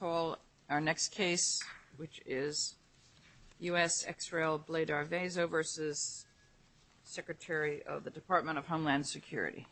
I call our next case, which is U.S. ex-rail Blader Veso v. Secretary of the Department of Homeland Security.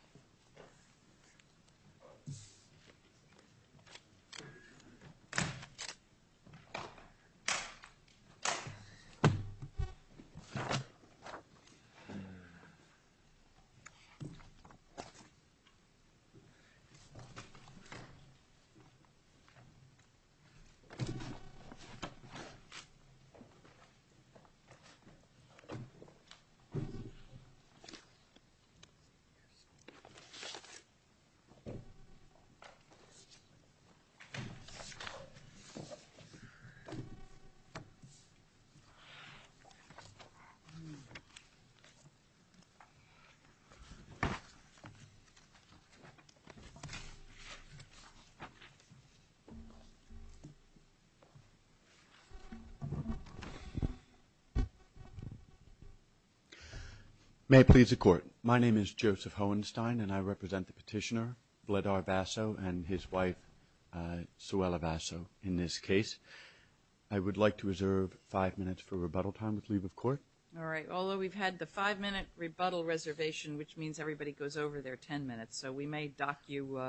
May it please the Court. My name is Joseph Hohenstein, and I represent the petitioner, Blader Veso, and his wife, Suella Veso, in this case. I would like to reserve five minutes for rebuttal time with leave of court. All right. Although we've had the five-minute rebuttal reservation, which means everybody goes over their ten minutes, so we may dock you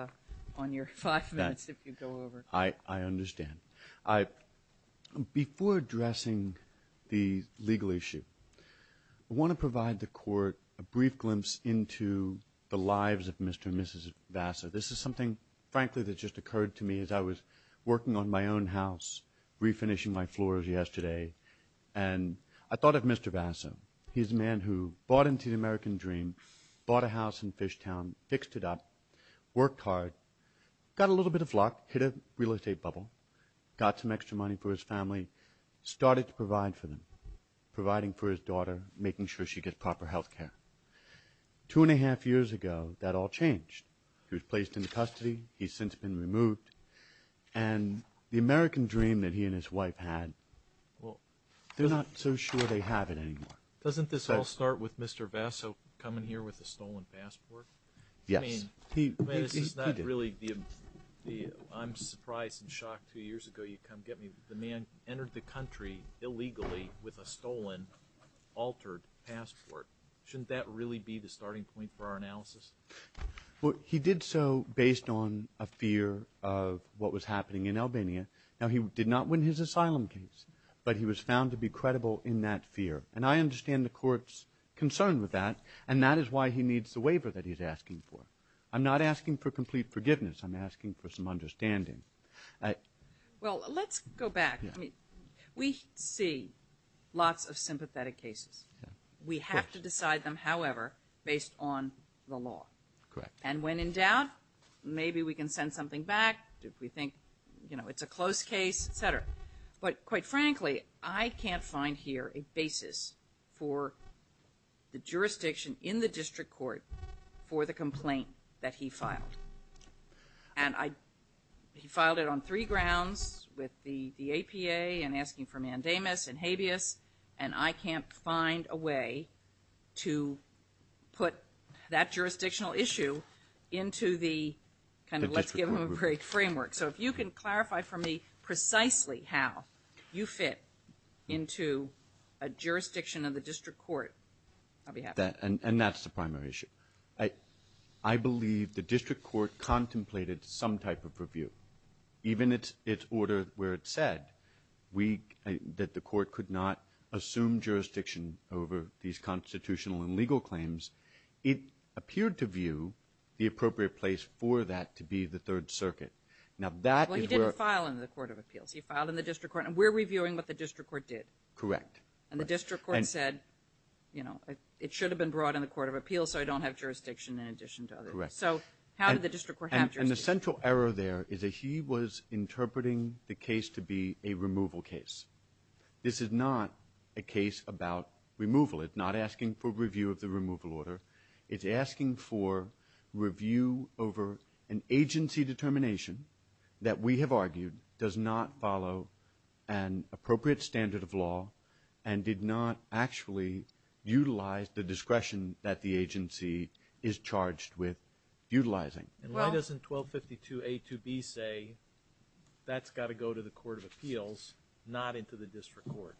on your five minutes if you go over. I understand. Before addressing the legal issue, I want to provide the Court a brief glimpse into the lives of Mr. and Mrs. Veso. This is something, frankly, that just occurred to me as I was working on my own house, refinishing my floors yesterday, and I thought of Mr. Veso. He's a man who bought into the American dream, bought a house in Fishtown, fixed it up, worked hard, got a little bit of luck, hit a real estate bubble, got some extra money for his family, started to provide for them, providing for his daughter, making sure she gets proper health care. Two and a half years ago, that all changed. He was placed into custody. He's since been removed, and the American dream that he and his wife had, they're not so sure they have it anymore. Doesn't this all start with Mr. Veso coming here with a stolen passport? Yes. He did. I mean, this is not really the, I'm surprised and shocked, two years ago, you come get me, the man entered the country illegally with a stolen, altered passport. Shouldn't that really be the starting point for our analysis? Well, he did so based on a fear of what was happening in Albania. Now, he did not win his asylum case, but he was found to be credible in that fear, and I understand the Court's concern with that, and that is why he needs the waiver that he's asking for. I'm not asking for complete forgiveness, I'm asking for some understanding. Well, let's go back. I mean, we see lots of sympathetic cases. Yeah. We have to decide them, however, based on the law. Correct. And when in doubt, maybe we can send something back, if we think, you know, it's a close case, et cetera. But, quite frankly, I can't find here a basis for the jurisdiction in the District Court for the complaint that he filed. And he filed it on three grounds, with the APA and asking for mandamus and habeas, and I can't find a way to put that jurisdictional issue into the kind of, let's give them a break, framework. So if you can clarify for me precisely how you fit into a jurisdiction in the District Court, I'll be happy. And that's the primary issue. I believe the District Court contemplated some type of review, even its order where it said that the court could not assume jurisdiction over these constitutional and legal claims. It appeared to view the appropriate place for that to be the Third Circuit. Now, that is where – Well, he didn't file in the Court of Appeals. He filed in the District Court, and we're reviewing what the District Court did. Correct. And the District Court said, you know, it should have been brought in the Court of Appeals so I don't have jurisdiction in addition to others. Correct. So how did the District Court have jurisdiction? And the central error there is that he was interpreting the case to be a removal case. This is not a case about removal. It's not asking for review of the removal order. It's asking for review over an agency determination that we have argued does not follow an appropriate standard of law and did not actually utilize the discretion that the agency is charged with utilizing. And why doesn't 1252A2B say that's got to go to the Court of Appeals, not into the District Court?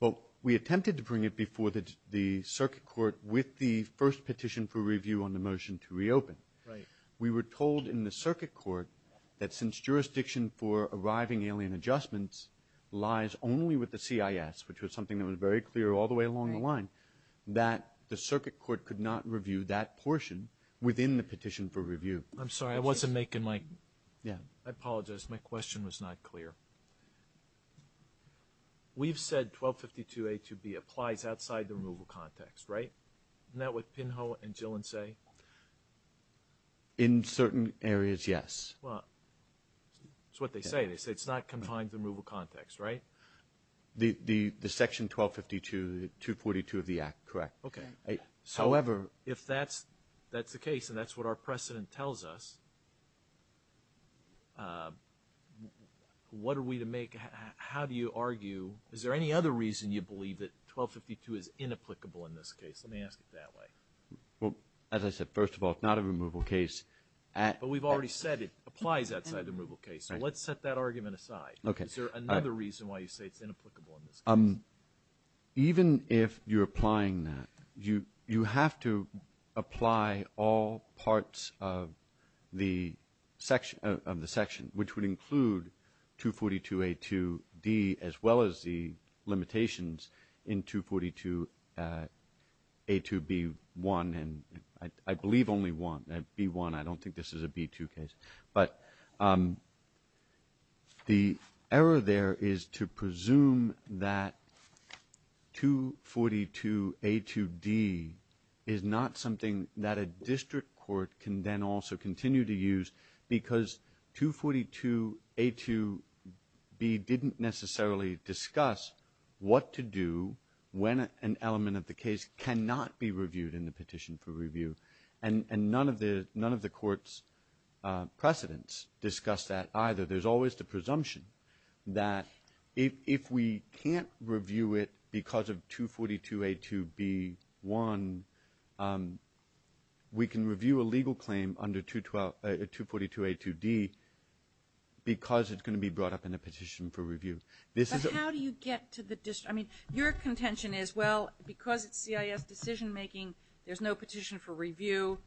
Well, we attempted to bring it before the Circuit Court with the first petition for review on the motion to reopen. Right. We were told in the Circuit Court that since jurisdiction for arriving alien adjustments lies only with the CIS, which was something that was very clear all the way along the line, that the Circuit Court could not review that portion within the petition for review. I'm sorry. I wasn't making my – I apologize. My question was not clear. We've said 1252A2B applies outside the removal context, right? Isn't that what Pinho and Gillen say? In certain areas, yes. Well, it's what they say. They say it's not confined to the removal context, right? The Section 1252, 242 of the Act, correct. Okay. However, if that's the case and that's what our precedent tells us, what are we to make – how do you argue – is there any other reason you believe that 1252 is inapplicable in this case? Let me ask it that way. Well, as I said, first of all, it's not a removal case. But we've already said it applies outside the removal case. So let's set that argument aside. Is there another reason why you say it's inapplicable in this case? Even if you're applying that, you have to apply all parts of the section, which would include 242A2D as well as the limitations in 242A2B1, and I believe only one, B1. I don't think this is a B2 case. But the error there is to presume that 242A2D is not something that a district court can then also continue to use because 242A2B didn't necessarily discuss what to do when an element of the case cannot be reviewed in the petition for review. And none of the court's precedents discuss that either. There's always the presumption that if we can't review it because of 242A2B1, we can review a legal claim under 242A2D because it's going to be brought up in a petition for review. But how do you get to the district? I mean, your contention is, well, because it's CIS decision-making, there's no petition for review.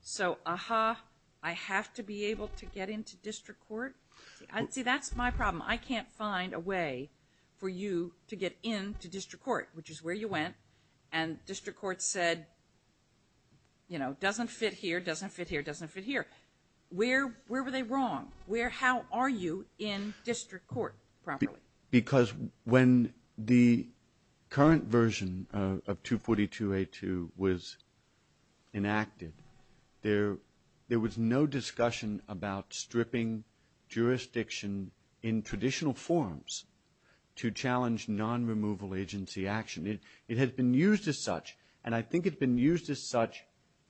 So, uh-huh, I have to be able to get into district court? See, that's my problem. I can't find a way for you to get into district court, which is where you went. And district court said, you know, doesn't fit here, doesn't fit here, doesn't fit here. Where were they wrong? How are you in district court properly? Because when the current version of 242A2 was enacted, there was no discussion about stripping jurisdiction in traditional forms to challenge non-removal agency action. It has been used as such, and I think it's been used as such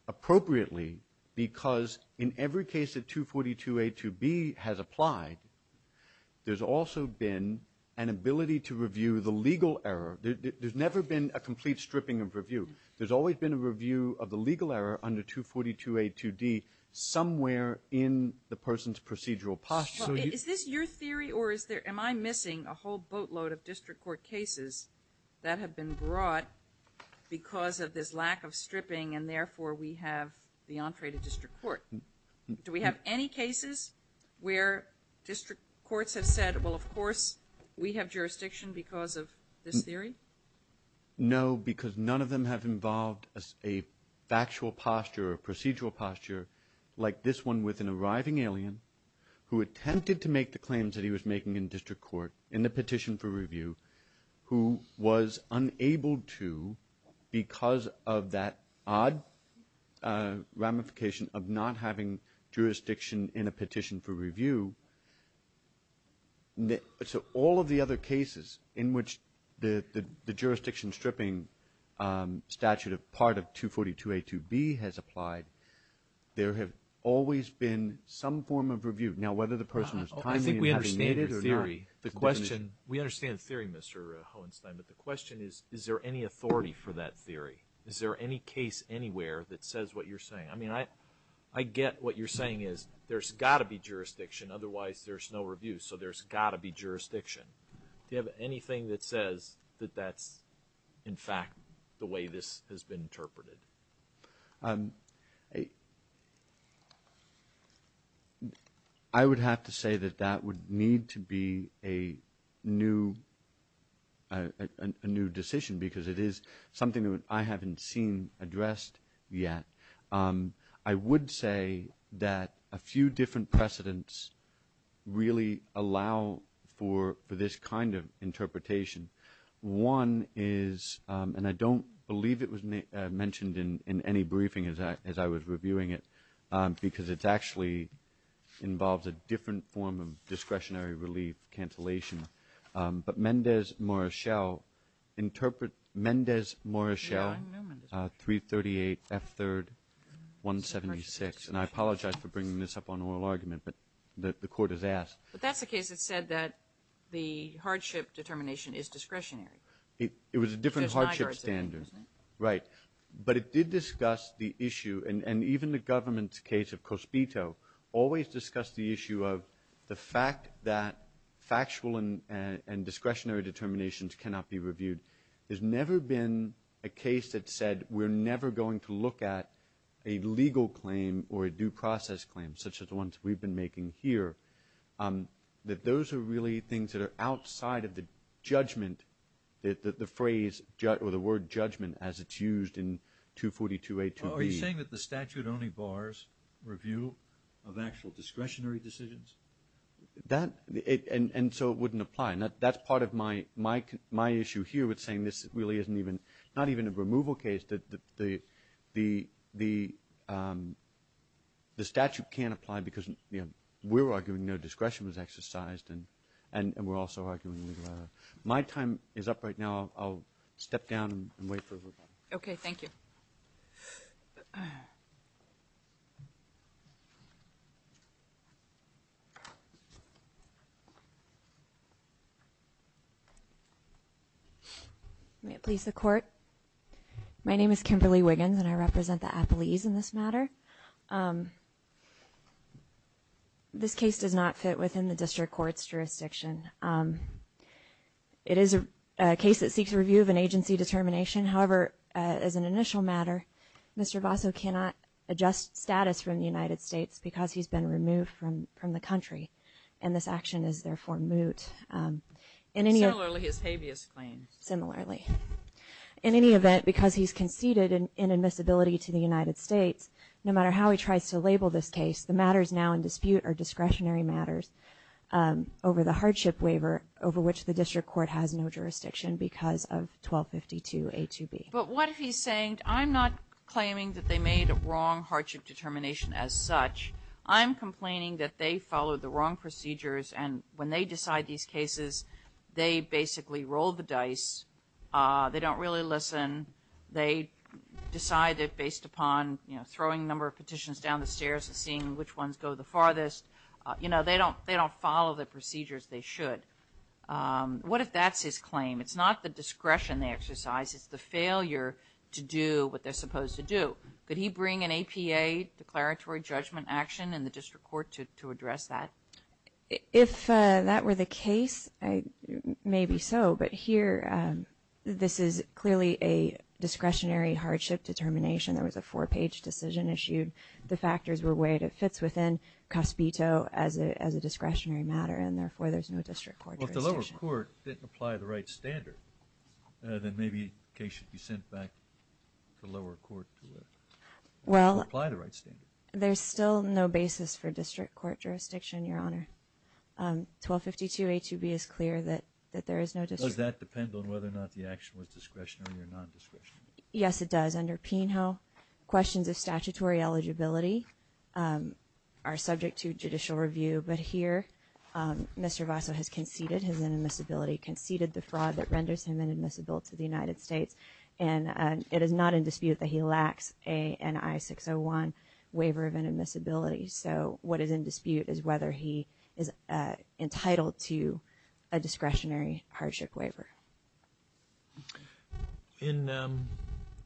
appropriately because in every case that 242A2B has applied, there's also been an ability to review the legal error. There's never been a complete stripping of review. There's always been a review of the legal error under 242A2D somewhere in the person's procedural posture. Is this your theory or is there am I missing a whole boatload of district court cases that have been brought because of this lack of stripping and therefore we have the entree to district court? Do we have any cases where district courts have said, well, of course we have jurisdiction because of this theory? No, because none of them have involved a factual posture or procedural posture like this one with an arriving alien who attempted to make the claims that he was making in district court in the petition for review who was unable to because of that odd ramification of not having jurisdiction in a petition for review. So all of the other cases in which the jurisdiction stripping statute of part of 242A2B has applied, there have always been some form of review. Now, whether the person was timely in having made it or not, we understand the theory, Mr. Hohenstein, but the question is, is there any authority for that theory? Is there any case anywhere that says what you're saying? I mean, I get what you're saying is there's got to be jurisdiction, otherwise there's no review, so there's got to be jurisdiction. Do you have anything that says that that's, in fact, the way this has been interpreted? I would have to say that that would need to be a new decision because it is something that I haven't seen addressed yet. I would say that a few different precedents really allow for this kind of interpretation. One is, and I don't believe it was mentioned in any briefing as I was reviewing it, because it actually involves a different form of discretionary relief cancellation. But Mendez-Morachel, interpret Mendez-Morachel 338F3-176, and I apologize for bringing this up on oral argument, but the Court has asked. But that's the case that said that the hardship determination is discretionary. It was a different hardship standard. Right. But it did discuss the issue, and even the government's case of Cospito always discussed the issue of the fact that factual and discretionary determinations cannot be reviewed. There's never been a case that said we're never going to look at a legal claim or a due process claim such as the ones we've been making here, that those are really things that are outside of the judgment, the phrase or the word judgment as it's used in 242A-2B. Are you saying that the statute only bars review of actual discretionary decisions? That, and so it wouldn't apply. That's part of my issue here with saying this really isn't even, not even a removal case, that the statute can't apply because we're arguing no discretion was exercised, and we're also arguing legal error. My time is up right now. I'll step down and wait for a vote. Okay. Thank you. May it please the Court? My name is Kimberly Wiggins, and I represent the appellees in this matter. This case does not fit within the district court's jurisdiction. It is a case that seeks review of an agency determination. However, as an initial matter, Mr. Basso cannot adjust status from the United States because he's been removed from the country, and this action is therefore moot. Similarly, his habeas claim. Similarly. In any event, because he's conceded inadmissibility to the United States, no matter how he tries to label this case, the matters now in dispute are discretionary matters over the hardship waiver over which the district court has no jurisdiction because of 1252A2B. But what if he's saying, I'm not claiming that they made a wrong hardship determination as such. I'm complaining that they followed the wrong procedures, and when they decide these cases, they basically roll the dice. They don't really listen. They decide that based upon, you know, throwing a number of petitions down the stairs and seeing which ones go the farthest. You know, they don't follow the procedures they should. What if that's his claim? It's not the discretion they exercise. It's the failure to do what they're supposed to do. Could he bring an APA, declaratory judgment action, in the district court to address that? If that were the case, maybe so. But here, this is clearly a discretionary hardship determination. There was a four-page decision issued. The factors were weighed. It fits within COSPITO as a discretionary matter, and therefore there's no district court jurisdiction. Well, if the lower court didn't apply the right standard, then maybe the case should be sent back to the lower court to apply the right standard. There's still no basis for district court jurisdiction, Your Honor. 1252A2B is clear that there is no district court jurisdiction. Does that depend on whether or not the action was discretionary or non-discretionary? Yes, it does. Under Pinho, questions of statutory eligibility are subject to judicial review. But here, Mr. Vaso has conceded his inadmissibility, conceded the fraud that renders him inadmissible to the United States, and it is not in dispute that he lacks a NI601 waiver of inadmissibility. So what is in dispute is whether he is entitled to a discretionary hardship waiver. In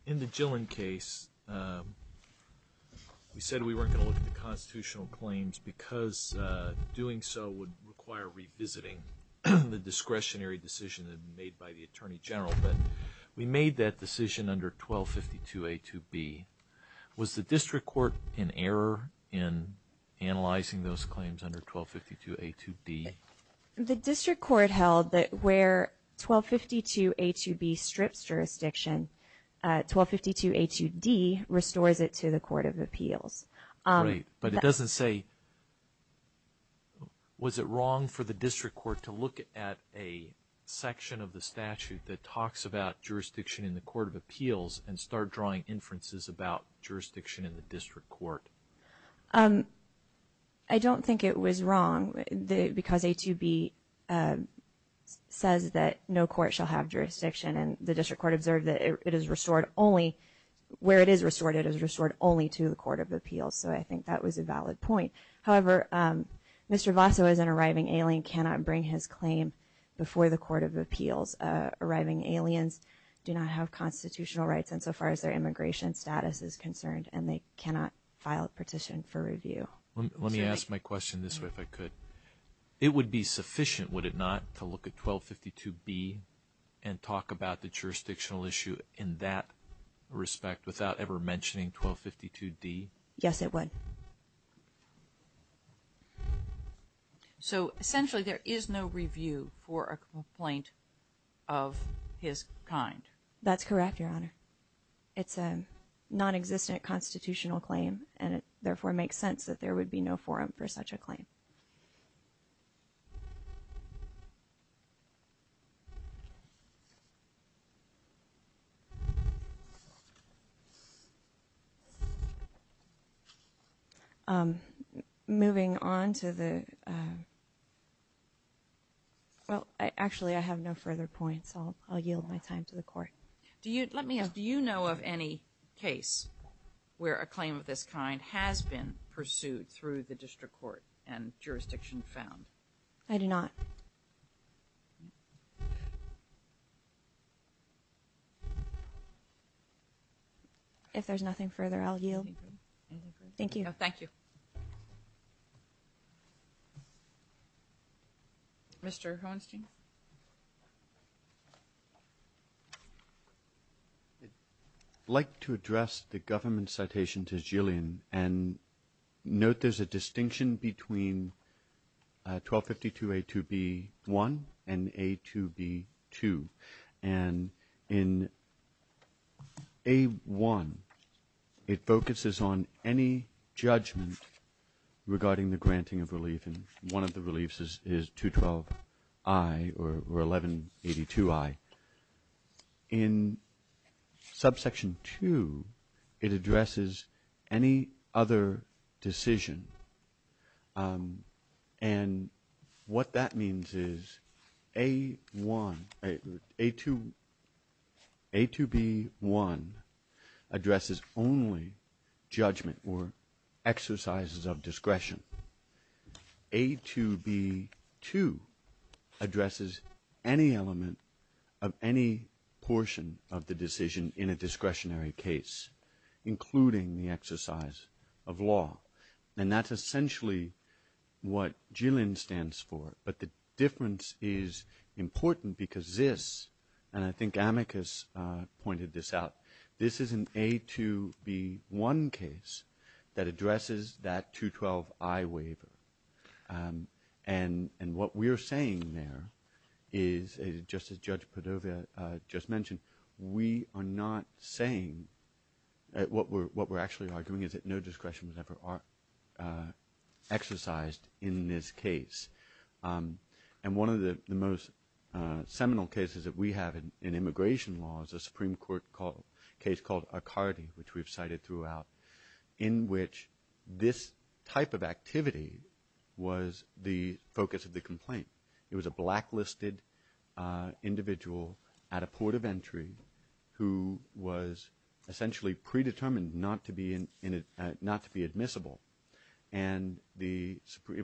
the Gillen case, we said we weren't going to look at the constitutional claims because doing so would require revisiting the discretionary decision made by the Attorney General. But we made that decision under 1252A2B. Was the district court in error in analyzing those claims under 1252A2D? The district court held that where 1252A2B strips jurisdiction, 1252A2D restores it to the Court of Appeals. Great. But it doesn't say, was it wrong for the district court to look at a section of the statute that talks about jurisdiction in the Court of Appeals and start drawing inferences about jurisdiction in the district court? I don't think it was wrong because A2B says that no court shall have jurisdiction, and the district court observed that it is restored only, where it is restored, it is restored only to the Court of Appeals. So I think that was a valid point. However, Mr. Vaso, as an arriving alien, cannot bring his claim before the Court of Appeals. Arriving aliens do not have constitutional rights insofar as their immigration status is concerned, and they cannot file a petition for review. Let me ask my question this way, if I could. It would be sufficient, would it not, to look at 1252B and talk about the jurisdictional issue in that respect without ever mentioning 1252D? Yes, it would. So essentially there is no review for a complaint of his kind? That's correct, Your Honor. It's a nonexistent constitutional claim, and it therefore makes sense that there would be no forum for such a claim. Moving on to the – well, actually, I have no further points. I'll yield my time to the Court. Let me ask, do you know of any case where a claim of this kind has been pursued through the district court and jurisdiction found? I do not. Thank you. If there's nothing further, I'll yield. Thank you. Thank you. Mr. Hohenstein? I'd like to address the government citation to Jillian and note there's a distinction between 1252A2B1 and A2B2. And in A1, it focuses on any judgment regarding the granting of relief, and one of the reliefs is 212I or 1182I. In subsection 2, it addresses any other decision. And what that means is A1 – A2B1 addresses only judgment or exercises of discretion. A2B2 addresses any element of any portion of the decision in a discretionary case, including the exercise of law. And that's essentially what Jillian stands for. But the difference is important because this – and I think Amicus pointed this out – this is an A2B1 case that addresses that 212I waiver. And what we're saying there is, just as Judge Padova just mentioned, we are not saying – what we're actually arguing is that no discretion was ever exercised in this case. And one of the most seminal cases that we have in immigration law is a Supreme Court case called Akardi, which we've cited throughout, in which this type of activity was the focus of the complaint. It was a blacklisted individual at a port of entry who was essentially predetermined not to be admissible. And it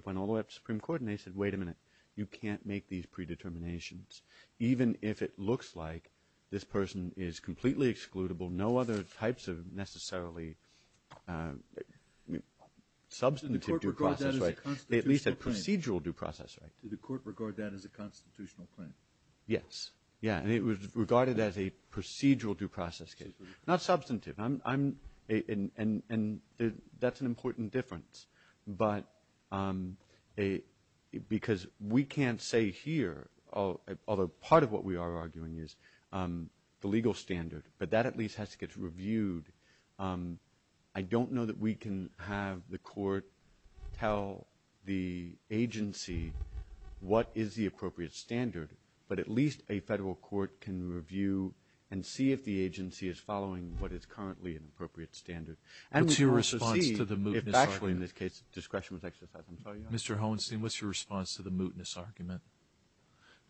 went all the way up to the Supreme Court, and they said, wait a minute, you can't make these predeterminations, even if it looks like this person is completely excludable, no other types of necessarily substantive due process right, at least a procedural due process right. Did the Court regard that as a constitutional claim? Yes. Yeah. And it was regarded as a procedural due process case. Not substantive. I'm – and that's an important difference. But a – because we can't say here, although part of what we are arguing is the legal standard, but that at least has to get reviewed. I don't know that we can have the Court tell the agency what is the appropriate standard, but at least a federal court can review and see if the agency is following what is currently an appropriate standard. What's your response to the mootness argument? Actually, in this case, discretion was exercised. I'm sorry. Mr. Holstein, what's your response to the mootness argument?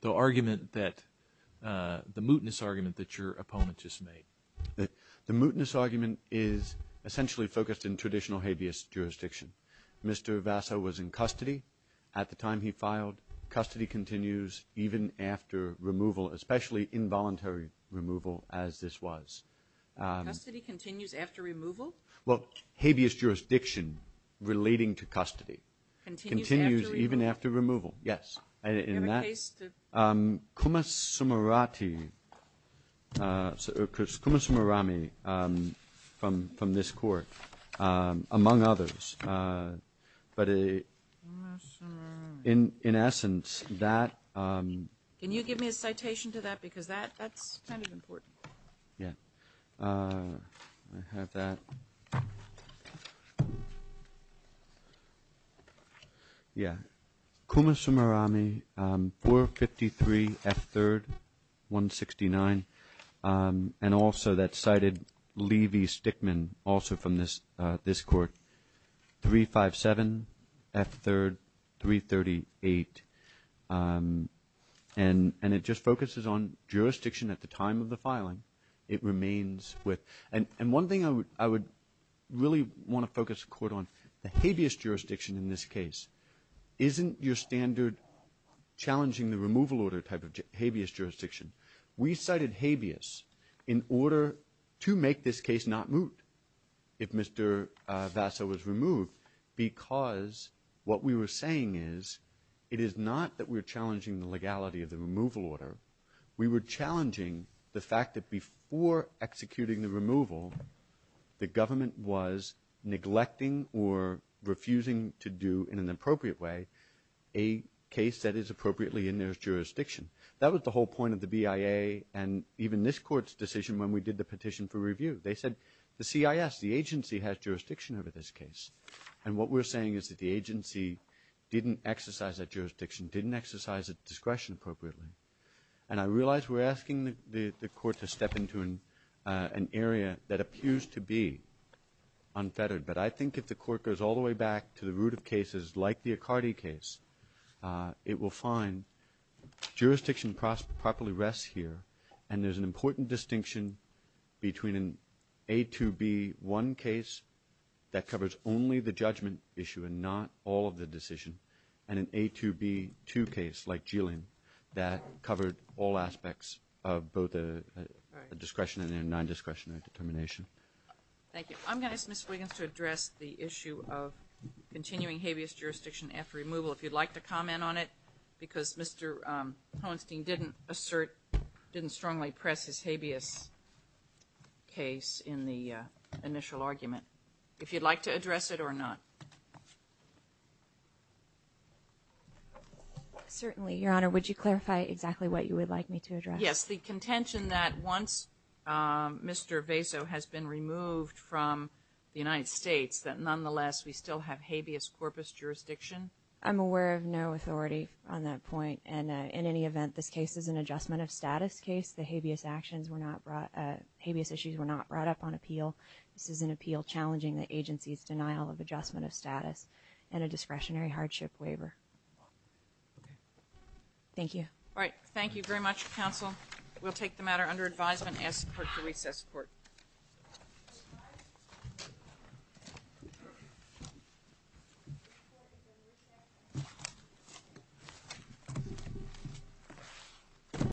The argument that – the mootness argument that your opponent just made. The mootness argument is essentially focused in traditional habeas jurisdiction. Mr. Vassa was in custody at the time he filed. Custody continues even after removal, especially involuntary removal as this was. Custody continues after removal? Well, habeas jurisdiction relating to custody. Continues after removal? Continues even after removal, yes. Do you have a case to – Kumasumurati – or Kumasumurami from this Court, among others. But in essence, that – Can you give me a citation to that? Because that's kind of important. Yeah. I have that. Yeah. Kumasumurami, 453 F. 3rd, 169. And also that cited Levy Stickman, also from this Court, 357 F. 3rd, 338. And it just focuses on jurisdiction at the time of the filing. It remains with – and one thing I would really want to focus the Court on, the habeas jurisdiction in this case, isn't your standard challenging the removal order type of habeas jurisdiction. We cited habeas in order to make this case not moot if Mr. Vassa was removed because what we were saying is it is not that we're challenging the legality of the removal order. We were challenging the fact that before executing the removal, the government was neglecting or refusing to do in an appropriate way a case that is appropriately in their jurisdiction. That was the whole point of the BIA They said the CIS, the agency, has jurisdiction over this case. And what we're saying is that the agency didn't exercise that jurisdiction, didn't exercise its discretion appropriately. And I realize we're asking the Court to step into an area that appears to be unfettered, but I think if the Court goes all the way back to the root of cases like the Accardi case, it will find jurisdiction properly rests here And there's an important distinction between an A2B1 case that covers only the judgment issue and not all of the decision and an A2B2 case like Geelin that covered all aspects of both the discretion and non-discretionary determination. Thank you. I'm going to ask Ms. Wiggins to address the issue of continuing habeas jurisdiction after removal if you'd like to comment on it because Mr. Hoenstein didn't assert, didn't strongly press his habeas case in the initial argument. If you'd like to address it or not. Certainly, Your Honor. Would you clarify exactly what you would like me to address? Yes. The contention that once Mr. Vaso has been removed from the United States that nonetheless we still have habeas corpus jurisdiction. I'm aware of no authority on that point. And in any event, this case is an adjustment of status case. The habeas actions were not brought, habeas issues were not brought up on appeal. This is an appeal challenging the agency's denial of adjustment of status and a discretionary hardship waiver. Okay. Thank you. All right. Thank you very much, counsel. We'll take the matter under advisement and ask the Court to recess the Court. Thank you.